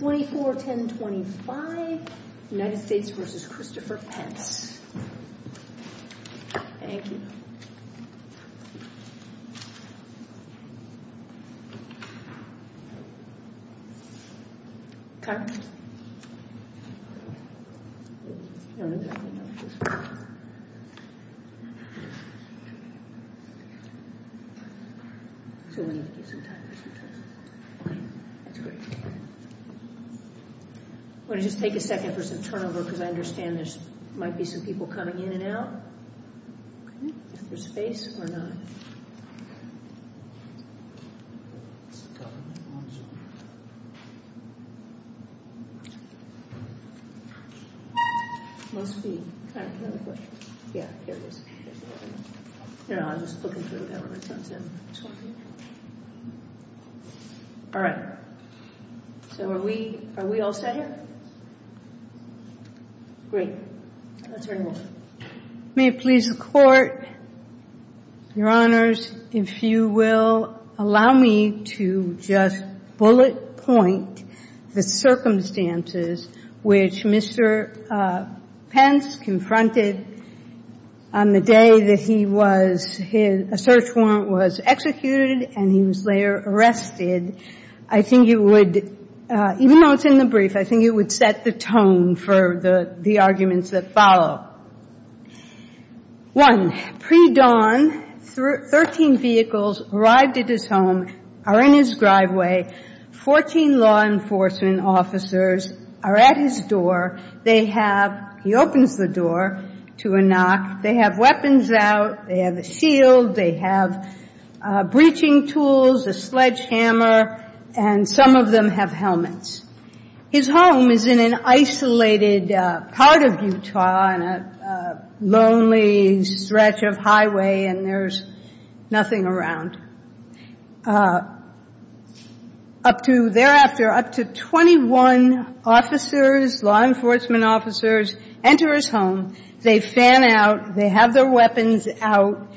24-10-25 United States v. Christopher Pence I'm going to just take a second for some turnover because I understand there might be some people coming in and out. Is there space or not? All right. So are we all set here? Great. Let's hear it. May it please the Court, Your Honors, if you will allow me to just bullet point the circumstances which Mr. Pence confronted on the day that he was his – a search warrant was executed and he was later arrested. I think it would – even though it's in the brief, I think it would set the tone for the arguments that follow. One, pre-dawn, 13 vehicles arrived at his home, are in his driveway. Fourteen law enforcement officers are at his door. They have – he opens the door to a knock. They have weapons out. They have a shield. They have breaching tools, a sledgehammer, and some of them have helmets. His home is in an isolated part of Utah on a lonely stretch of highway and there's nothing around. Up to thereafter, up to 21 officers, law enforcement officers, enter his home. They fan out. They have their weapons out.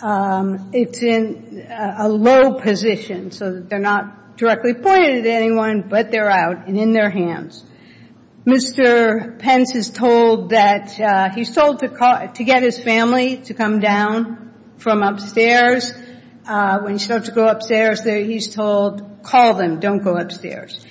It's in a low position so that they're not directly pointed at anyone, but they're out and in their hands. Mr. Pence is told that – he's told to call – to get his family to come down from upstairs. When he starts to go upstairs, he's told, call them, don't go upstairs.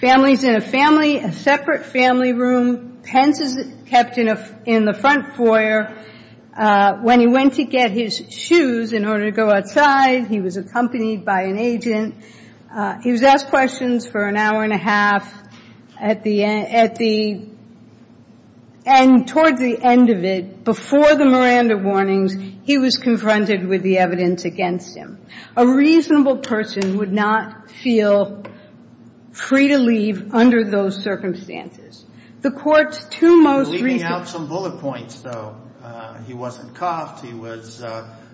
Family's in a family – a separate family room. Pence is kept in the front foyer. When he went to get his shoes in order to go outside, he was accompanied by an agent. He was asked questions for an hour and a half at the – and towards the end of it, before the Miranda warnings, he was confronted with the evidence against him. A reasonable person would not feel free to leave under those circumstances. The court's two most recent – Leaving out some bullet points, though. He wasn't cuffed. He was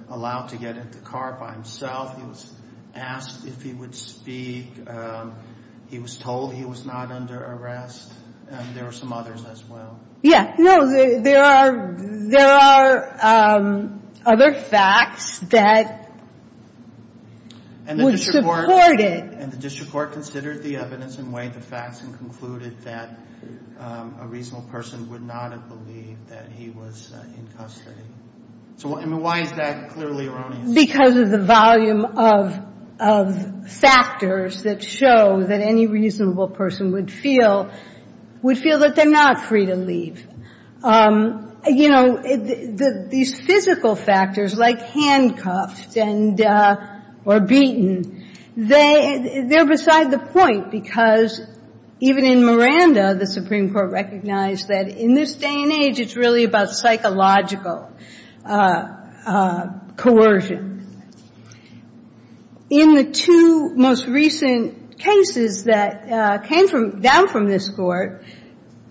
allowed to get in the car by himself. He was asked if he would speak. He was told he was not under arrest. There were some others as well. Yeah. No, there are – there are other facts that would support it. And the district court considered the evidence and weighed the facts and concluded that a reasonable person would not have believed that he was in custody. So, I mean, why is that clearly erroneous? Because of the volume of – of factors that show that any reasonable person would feel – would feel that they're not free to leave. You know, these physical factors like handcuffed and – or beaten, they – they're beside the point because even in Miranda, the Supreme Court recognized that in this day and age, it's really about psychological coercion. In the two most recent cases that came from – down from this court,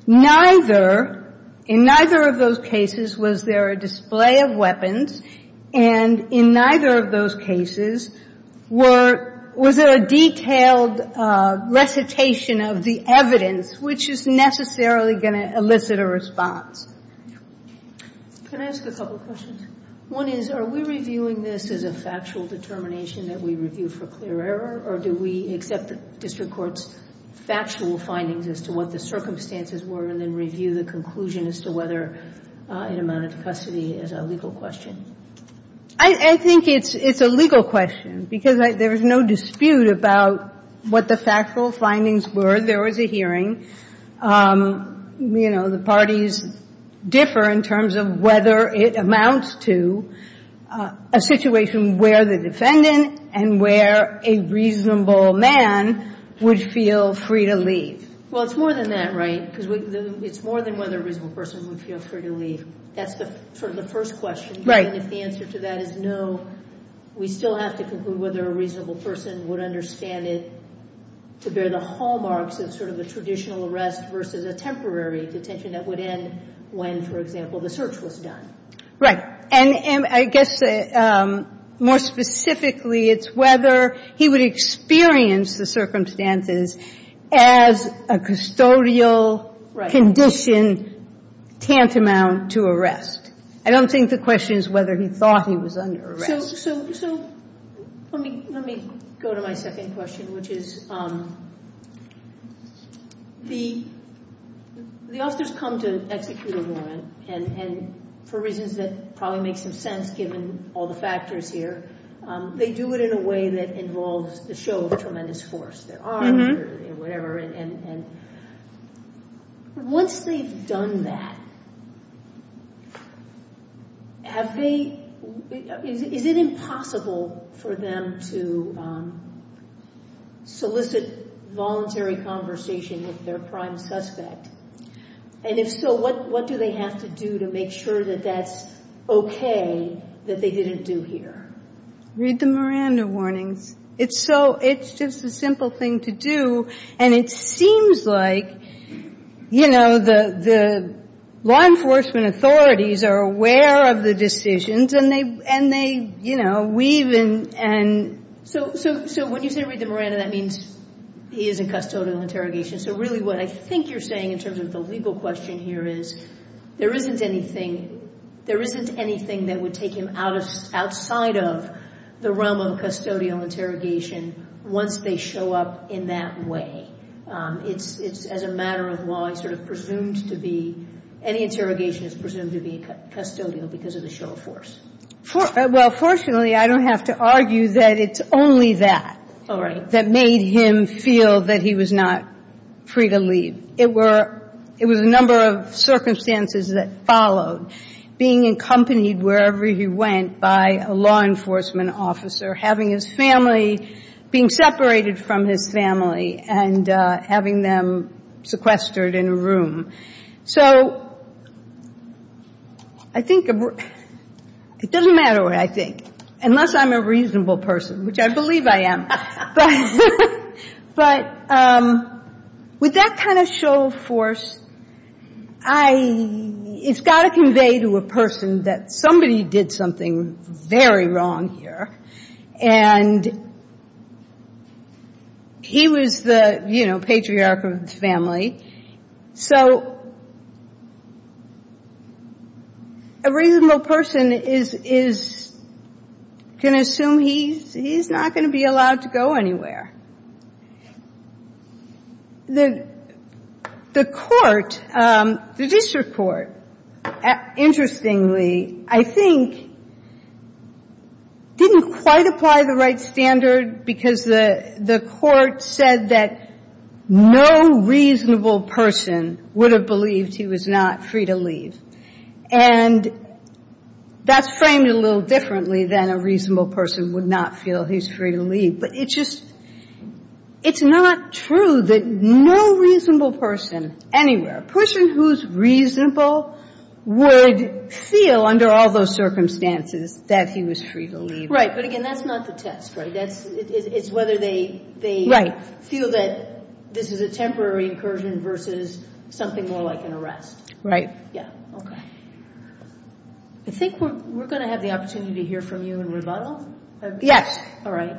neither – in neither of those cases was there a display of weapons. And in neither of those cases were – was there a detailed recitation of the evidence which is necessarily going to elicit a response. Can I ask a couple questions? One is, are we reviewing this as a factual determination that we review for clear error, or do we accept the district court's factual findings as to what the circumstances were and then review the conclusion as to whether it amounted to custody as a legal question? I – I think it's – it's a legal question because I – there is no dispute about what the factual findings were. There was a hearing. You know, the parties differ in terms of whether it amounts to a situation where the defendant and where a reasonable man would feel free to leave. Well, it's more than that, right? Because we – it's more than whether a reasonable person would feel free to leave. That's the – sort of the first question. Right. And if the answer to that is no, we still have to conclude whether a reasonable person would understand it to bear the hallmarks of sort of a traditional arrest versus a temporary detention that would end when, for example, the search was done. Right. And I guess more specifically, it's whether he would experience the circumstances as a custodial condition tantamount to arrest. I don't think the question is whether he thought he was under arrest. So – so – so let me – let me go to my second question, which is the – the officers come to execute a warrant, and – and for reasons that probably make some sense given all the factors here, they do it in a way that involves the show of tremendous force. Mm-hmm. And – and once they've done that, have they – is it impossible for them to solicit voluntary conversation with their prime suspect? And if so, what – what do they have to do to make sure that that's okay that they didn't do here? Read the Miranda warnings. It's so – it's just a simple thing to do. And it seems like, you know, the – the law enforcement authorities are aware of the decisions and they – and they, you know, weave in and – So – so – so when you say read the Miranda, that means he is in custodial interrogation. So really what I think you're saying in terms of the legal question here is there isn't anything – of custodial interrogation once they show up in that way. It's – it's – as a matter of law, it's sort of presumed to be – any interrogation is presumed to be custodial because of the show of force. Well, fortunately, I don't have to argue that it's only that. Oh, right. That made him feel that he was not free to leave. It was a number of circumstances that followed, being accompanied wherever he went by a law enforcement officer, having his family – being separated from his family and having them sequestered in a room. So I think – it doesn't matter what I think, unless I'm a reasonable person, which I believe I am. But with that kind of show of force, I – it's got to convey to a person that somebody did something very wrong here. And he was the, you know, patriarch of his family. So a reasonable person is going to assume he's not going to be allowed to go anywhere. The court, the district court, interestingly, I think, didn't quite apply the right standard because the court said that no reasonable person would have believed he was not free to leave. And that's framed a little differently than a reasonable person would not feel he's free to leave. But it just – it's not true that no reasonable person anywhere, a person who's reasonable, would feel under all those circumstances that he was free to leave. Right. But again, that's not the test, right? That's – it's whether they feel that this is a temporary incursion versus something more like an arrest. Right. Yeah. Okay. I think we're going to have the opportunity to hear from you in rebuttal. Yes. All right.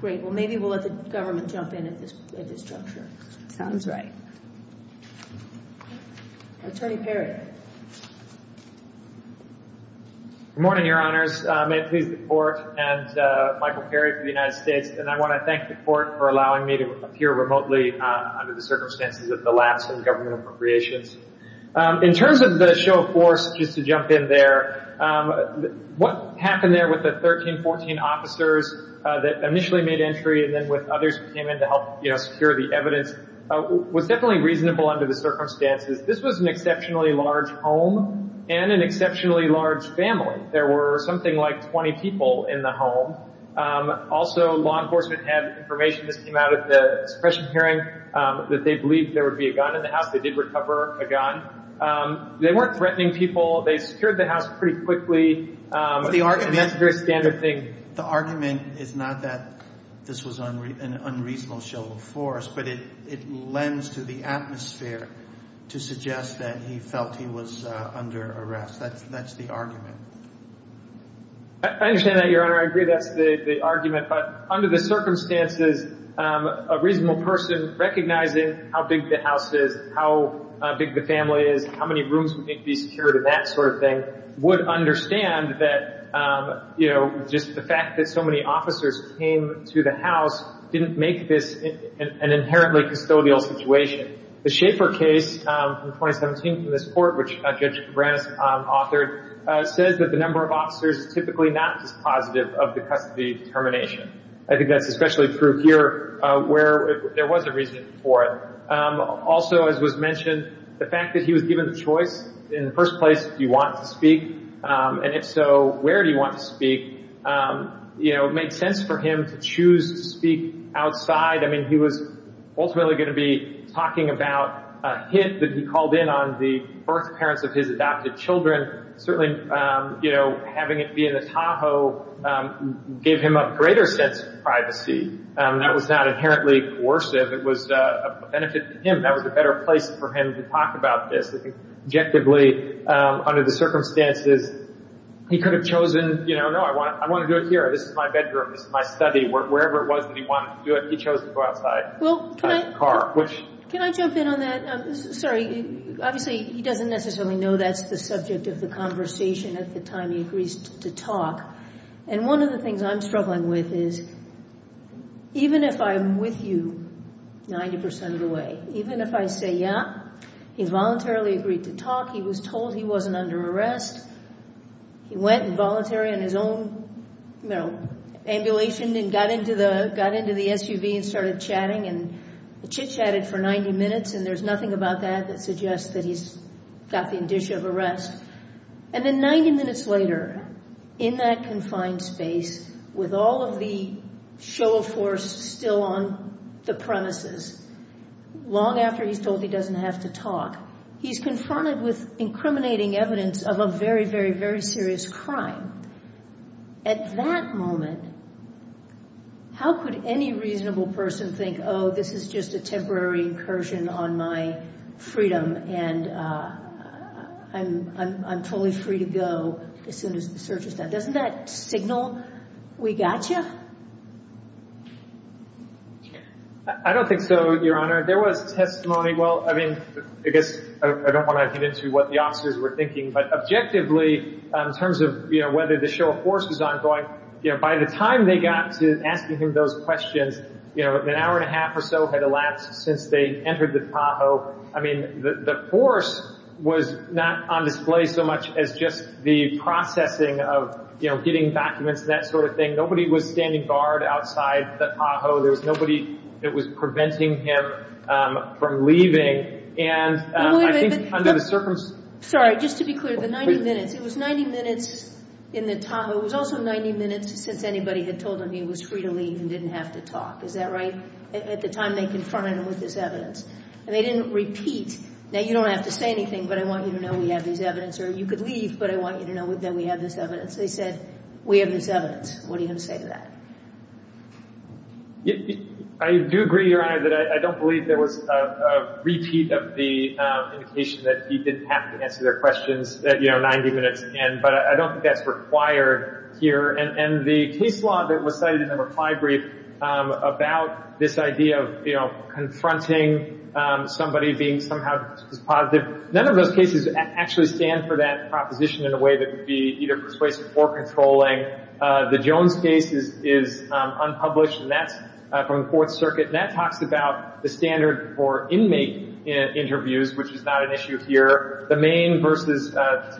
Great. Well, maybe we'll let the government jump in at this juncture. Sounds right. Attorney Perry. Good morning, Your Honors. May it please the Court and Michael Perry for the United States. And I want to thank the Court for allowing me to appear remotely under the circumstances of the lapse in government appropriations. In terms of the show of force, just to jump in there, what happened there with the 13, 14 officers that initially made entry and then with others who came in to help secure the evidence was definitely reasonable under the circumstances. This was an exceptionally large home and an exceptionally large family. There were something like 20 people in the home. Also, law enforcement had information that came out at the suppression hearing that they believed there would be a gun in the house. They did recover a gun. They weren't threatening people. They secured the house pretty quickly. But the argument – And that's a very standard thing. The argument is not that this was an unreasonable show of force, but it lends to the atmosphere to suggest that he felt he was under arrest. That's the argument. I understand that, Your Honor. I agree that's the argument. But under the circumstances, a reasonable person recognizing how big the house is, how big the family is, how many rooms would need to be secured and that sort of thing would understand that, you know, just the fact that so many officers came to the house didn't make this an inherently custodial situation. The Schaefer case in 2017 from this court, which Judge Branas authored, says that the number of officers is typically not dispositive of the custody termination. I think that's especially true here where there was a reason for it. Also, as was mentioned, the fact that he was given the choice in the first place, do you want to speak? And if so, where do you want to speak? You know, it made sense for him to choose to speak outside. I mean, he was ultimately going to be talking about a hit that he called in on the birth parents of his adopted children. Certainly, you know, having it be in the Tahoe gave him a greater sense of privacy. That was not inherently coercive. It was a benefit to him. That was a better place for him to talk about this. Objectively, under the circumstances, he could have chosen, you know, no, I want to do it here. This is my bedroom. This is my study. Wherever it was that he wanted to do it, he chose to go outside. Well, can I jump in on that? Sorry. Obviously, he doesn't necessarily know that's the subject of the conversation at the time he agrees to talk. And one of the things I'm struggling with is even if I'm with you 90% of the way, even if I say yeah, he's voluntarily agreed to talk. He was told he wasn't under arrest. He went in voluntary on his own, you know, ambulation and got into the SUV and started chatting. And chitchatted for 90 minutes, and there's nothing about that that suggests that he's got the indicia of arrest. And then 90 minutes later, in that confined space, with all of the show of force still on the premises, long after he's told he doesn't have to talk, he's confronted with incriminating evidence of a very, very, very serious crime. At that moment, how could any reasonable person think, oh, this is just a temporary incursion on my freedom, and I'm totally free to go as soon as the search is done? Doesn't that signal we got you? I don't think so, Your Honor. There was testimony. I guess I don't want to get into what the officers were thinking, but objectively, in terms of whether the show of force was ongoing, by the time they got to asking him those questions, an hour and a half or so had elapsed since they entered the Tahoe. I mean, the force was not on display so much as just the processing of getting documents and that sort of thing. Nobody was standing guard outside the Tahoe. There was nobody that was preventing him from leaving. And I think under the circumstances— Sorry, just to be clear, the 90 minutes, it was 90 minutes in the Tahoe. It was also 90 minutes since anybody had told him he was free to leave and didn't have to talk. Is that right? At the time they confronted him with this evidence. And they didn't repeat, now, you don't have to say anything, but I want you to know we have this evidence, or you could leave, but I want you to know that we have this evidence. They said, we have this evidence. What are you going to say to that? I do agree, Your Honor, that I don't believe there was a repeat of the indication that he didn't have to answer their questions, you know, 90 minutes in, but I don't think that's required here. And the case law that was cited in the reply brief about this idea of, you know, confronting somebody being somehow positive, none of those cases actually stand for that proposition in a way that would be either persuasive or controlling. The Jones case is unpublished, and that's from the Fourth Circuit, and that talks about the standard for inmate interviews, which is not an issue here. The Maine v.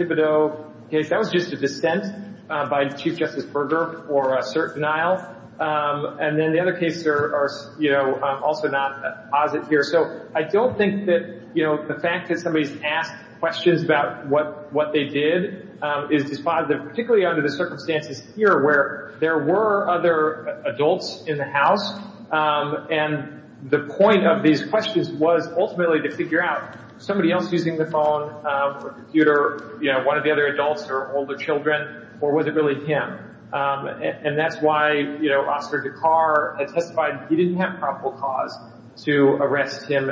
Thibodeau case, that was just a dissent by Chief Justice Berger for certain denial. And then the other cases are, you know, also not positive here. So I don't think that, you know, the fact that somebody has asked questions about what they did is dispositive, particularly under the circumstances here where there were other adults in the house, and the point of these questions was ultimately to figure out, was somebody else using the phone or computer, you know, one of the other adults or older children, or was it really him? And that's why, you know, Oscar Dekar testified he didn't have probable cause to arrest him,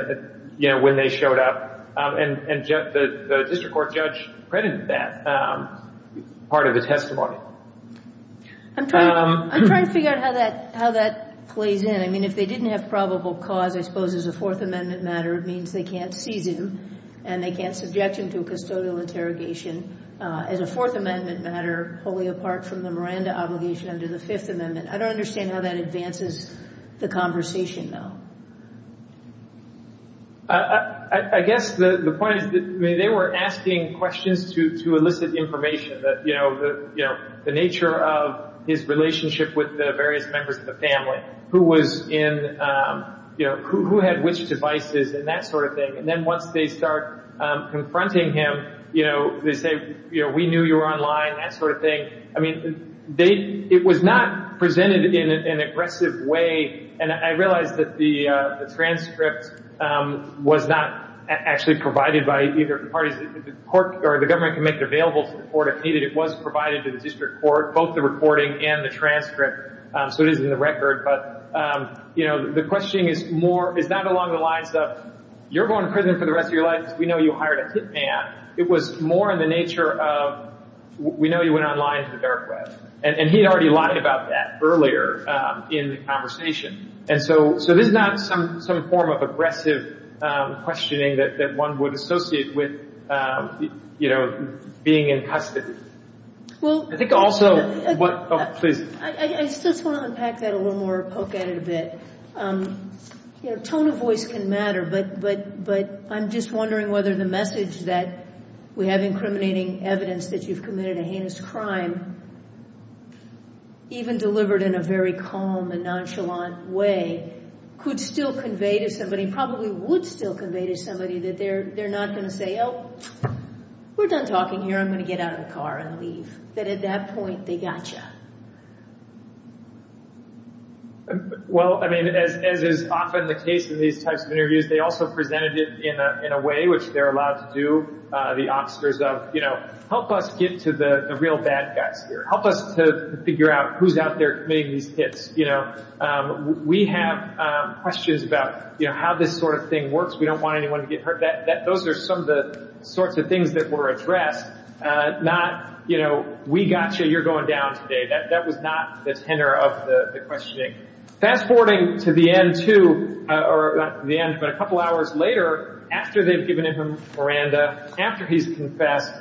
you know, when they showed up. And the district court judge credited that part of his testimony. I'm trying to figure out how that plays in. I mean, if they didn't have probable cause, I suppose, as a Fourth Amendment matter, it means they can't seize him and they can't subject him to a custodial interrogation. As a Fourth Amendment matter, wholly apart from the Miranda obligation under the Fifth Amendment, I don't understand how that advances the conversation, though. I guess the point is that they were asking questions to elicit information that, you know, the nature of his relationship with the various members of the family, who was in, you know, who had which devices and that sort of thing, and then once they start confronting him, you know, they say, you know, we knew you were online, that sort of thing. I mean, it was not presented in an aggressive way. And I realize that the transcript was not actually provided by either of the parties. The court or the government can make it available to the court if needed. It was provided to the district court, both the recording and the transcript. So it is in the record. But, you know, the question is not along the lines of you're going to prison for the rest of your life because we know you hired a hit man. It was more in the nature of we know you went online to the dark web. And he had already lied about that earlier in the conversation. And so this is not some form of aggressive questioning that one would associate with, you know, being in custody. I think also what – oh, please. I just want to unpack that a little more, poke at it a bit. You know, tone of voice can matter. But I'm just wondering whether the message that we have incriminating evidence that you've committed a heinous crime, even delivered in a very calm and nonchalant way, could still convey to somebody, probably would still convey to somebody that they're not going to say, oh, we're done talking here. I'm going to get out of the car and leave, that at that point they got you. Well, I mean, as is often the case in these types of interviews, they also presented it in a way which they're allowed to do, the officers of, you know, help us get to the real bad guys here. Help us to figure out who's out there committing these hits, you know. We have questions about, you know, how this sort of thing works. We don't want anyone to get hurt. Those are some of the sorts of things that were addressed, not, you know, we got you, you're going down today. That was not the tenor of the questioning. Fast forwarding to the end, too, or not to the end, but a couple hours later, after they've given him Miranda, after he's confessed,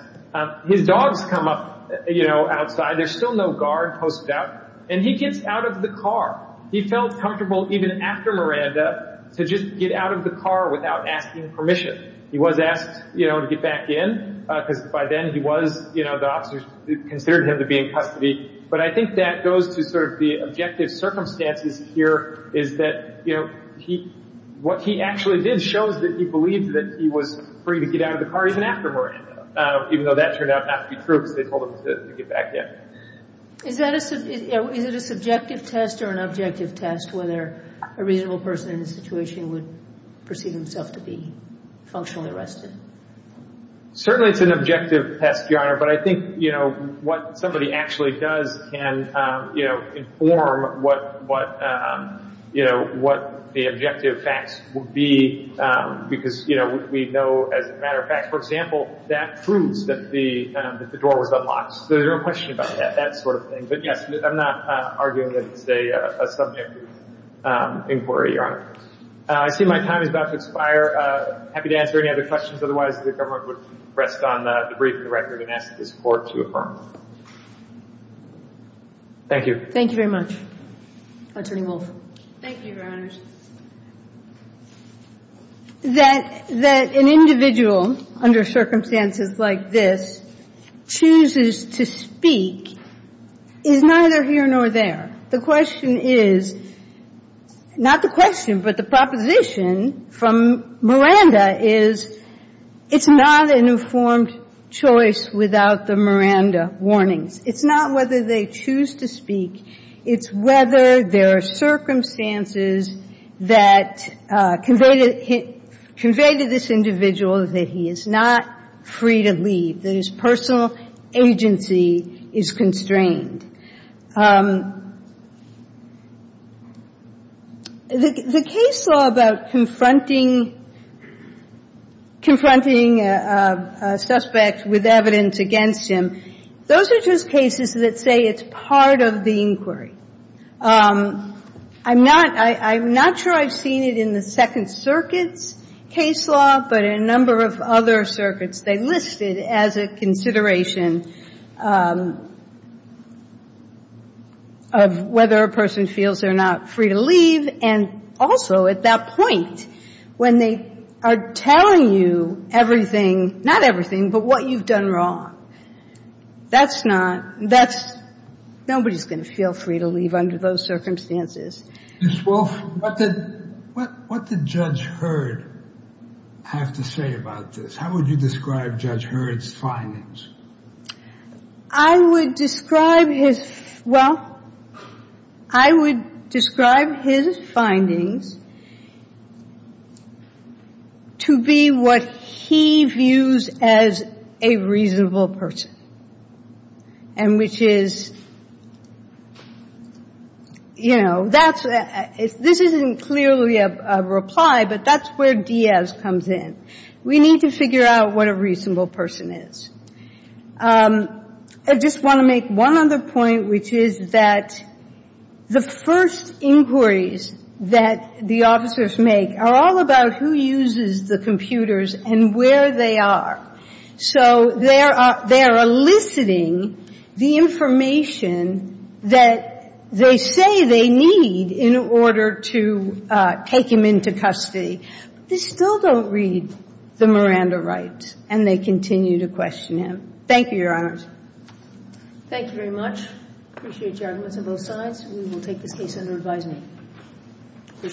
his dogs come up, you know, outside. There's still no guard posted out. And he gets out of the car. He felt comfortable even after Miranda to just get out of the car without asking permission. He was asked, you know, to get back in because by then he was, you know, the officers considered him to be in custody. But I think that goes to sort of the objective circumstances here is that, you know, what he actually did shows that he believed that he was free to get out of the car even after Miranda, even though that turned out not to be true because they told him to get back in. Is it a subjective test or an objective test whether a reasonable person in this situation would perceive himself to be functionally arrested? Certainly it's an objective test, Your Honor. But I think, you know, what somebody actually does can, you know, inform what, you know, what the objective facts would be because, you know, we know as a matter of fact, for example, that proves that the door was unlocked. So there's no question about that sort of thing. But, yes, I'm not arguing that it's a subjective inquiry, Your Honor. I see my time is about to expire. I'm happy to answer any other questions. Otherwise, the government would rest on the brief of the record and ask this Court to affirm. Thank you. Thank you very much. Attorney Wolf. Thank you, Your Honors. That an individual under circumstances like this chooses to speak is neither here nor there. The question is, not the question, but the proposition from Miranda is it's not an informed choice without the Miranda warnings. It's not whether they choose to speak. It's whether there are circumstances that convey to this individual that he is not free to leave, that his personal agency is constrained. The case law about confronting a suspect with evidence against him, those are just cases that say it's part of the inquiry. I'm not sure I've seen it in the Second Circuit's case law, but in a number of other circuits, they list it as a consideration of whether a person feels they're not free to leave, and also at that point, when they are telling you everything, not everything, but what you've done wrong, that's not, that's, nobody's going to feel free to leave under those circumstances. Ms. Wolf, what did Judge Hurd have to say about this? How would you describe Judge Hurd's findings? I would describe his, well, I would describe his findings to be what he views as a reasonable person, and which is, you know, that's, this isn't clearly a reply, but that's where Diaz comes in. We need to figure out what a reasonable person is. I just want to make one other point, which is that the first inquiries that the officers make are all about who uses the computers and where they are. So they are eliciting the information that they say they need in order to take him into custody. They still don't read the Miranda rights, and they continue to question him. Thank you, Your Honors. Thank you very much. Appreciate your arguments on both sides. We will take this case under advisement. Appreciate it.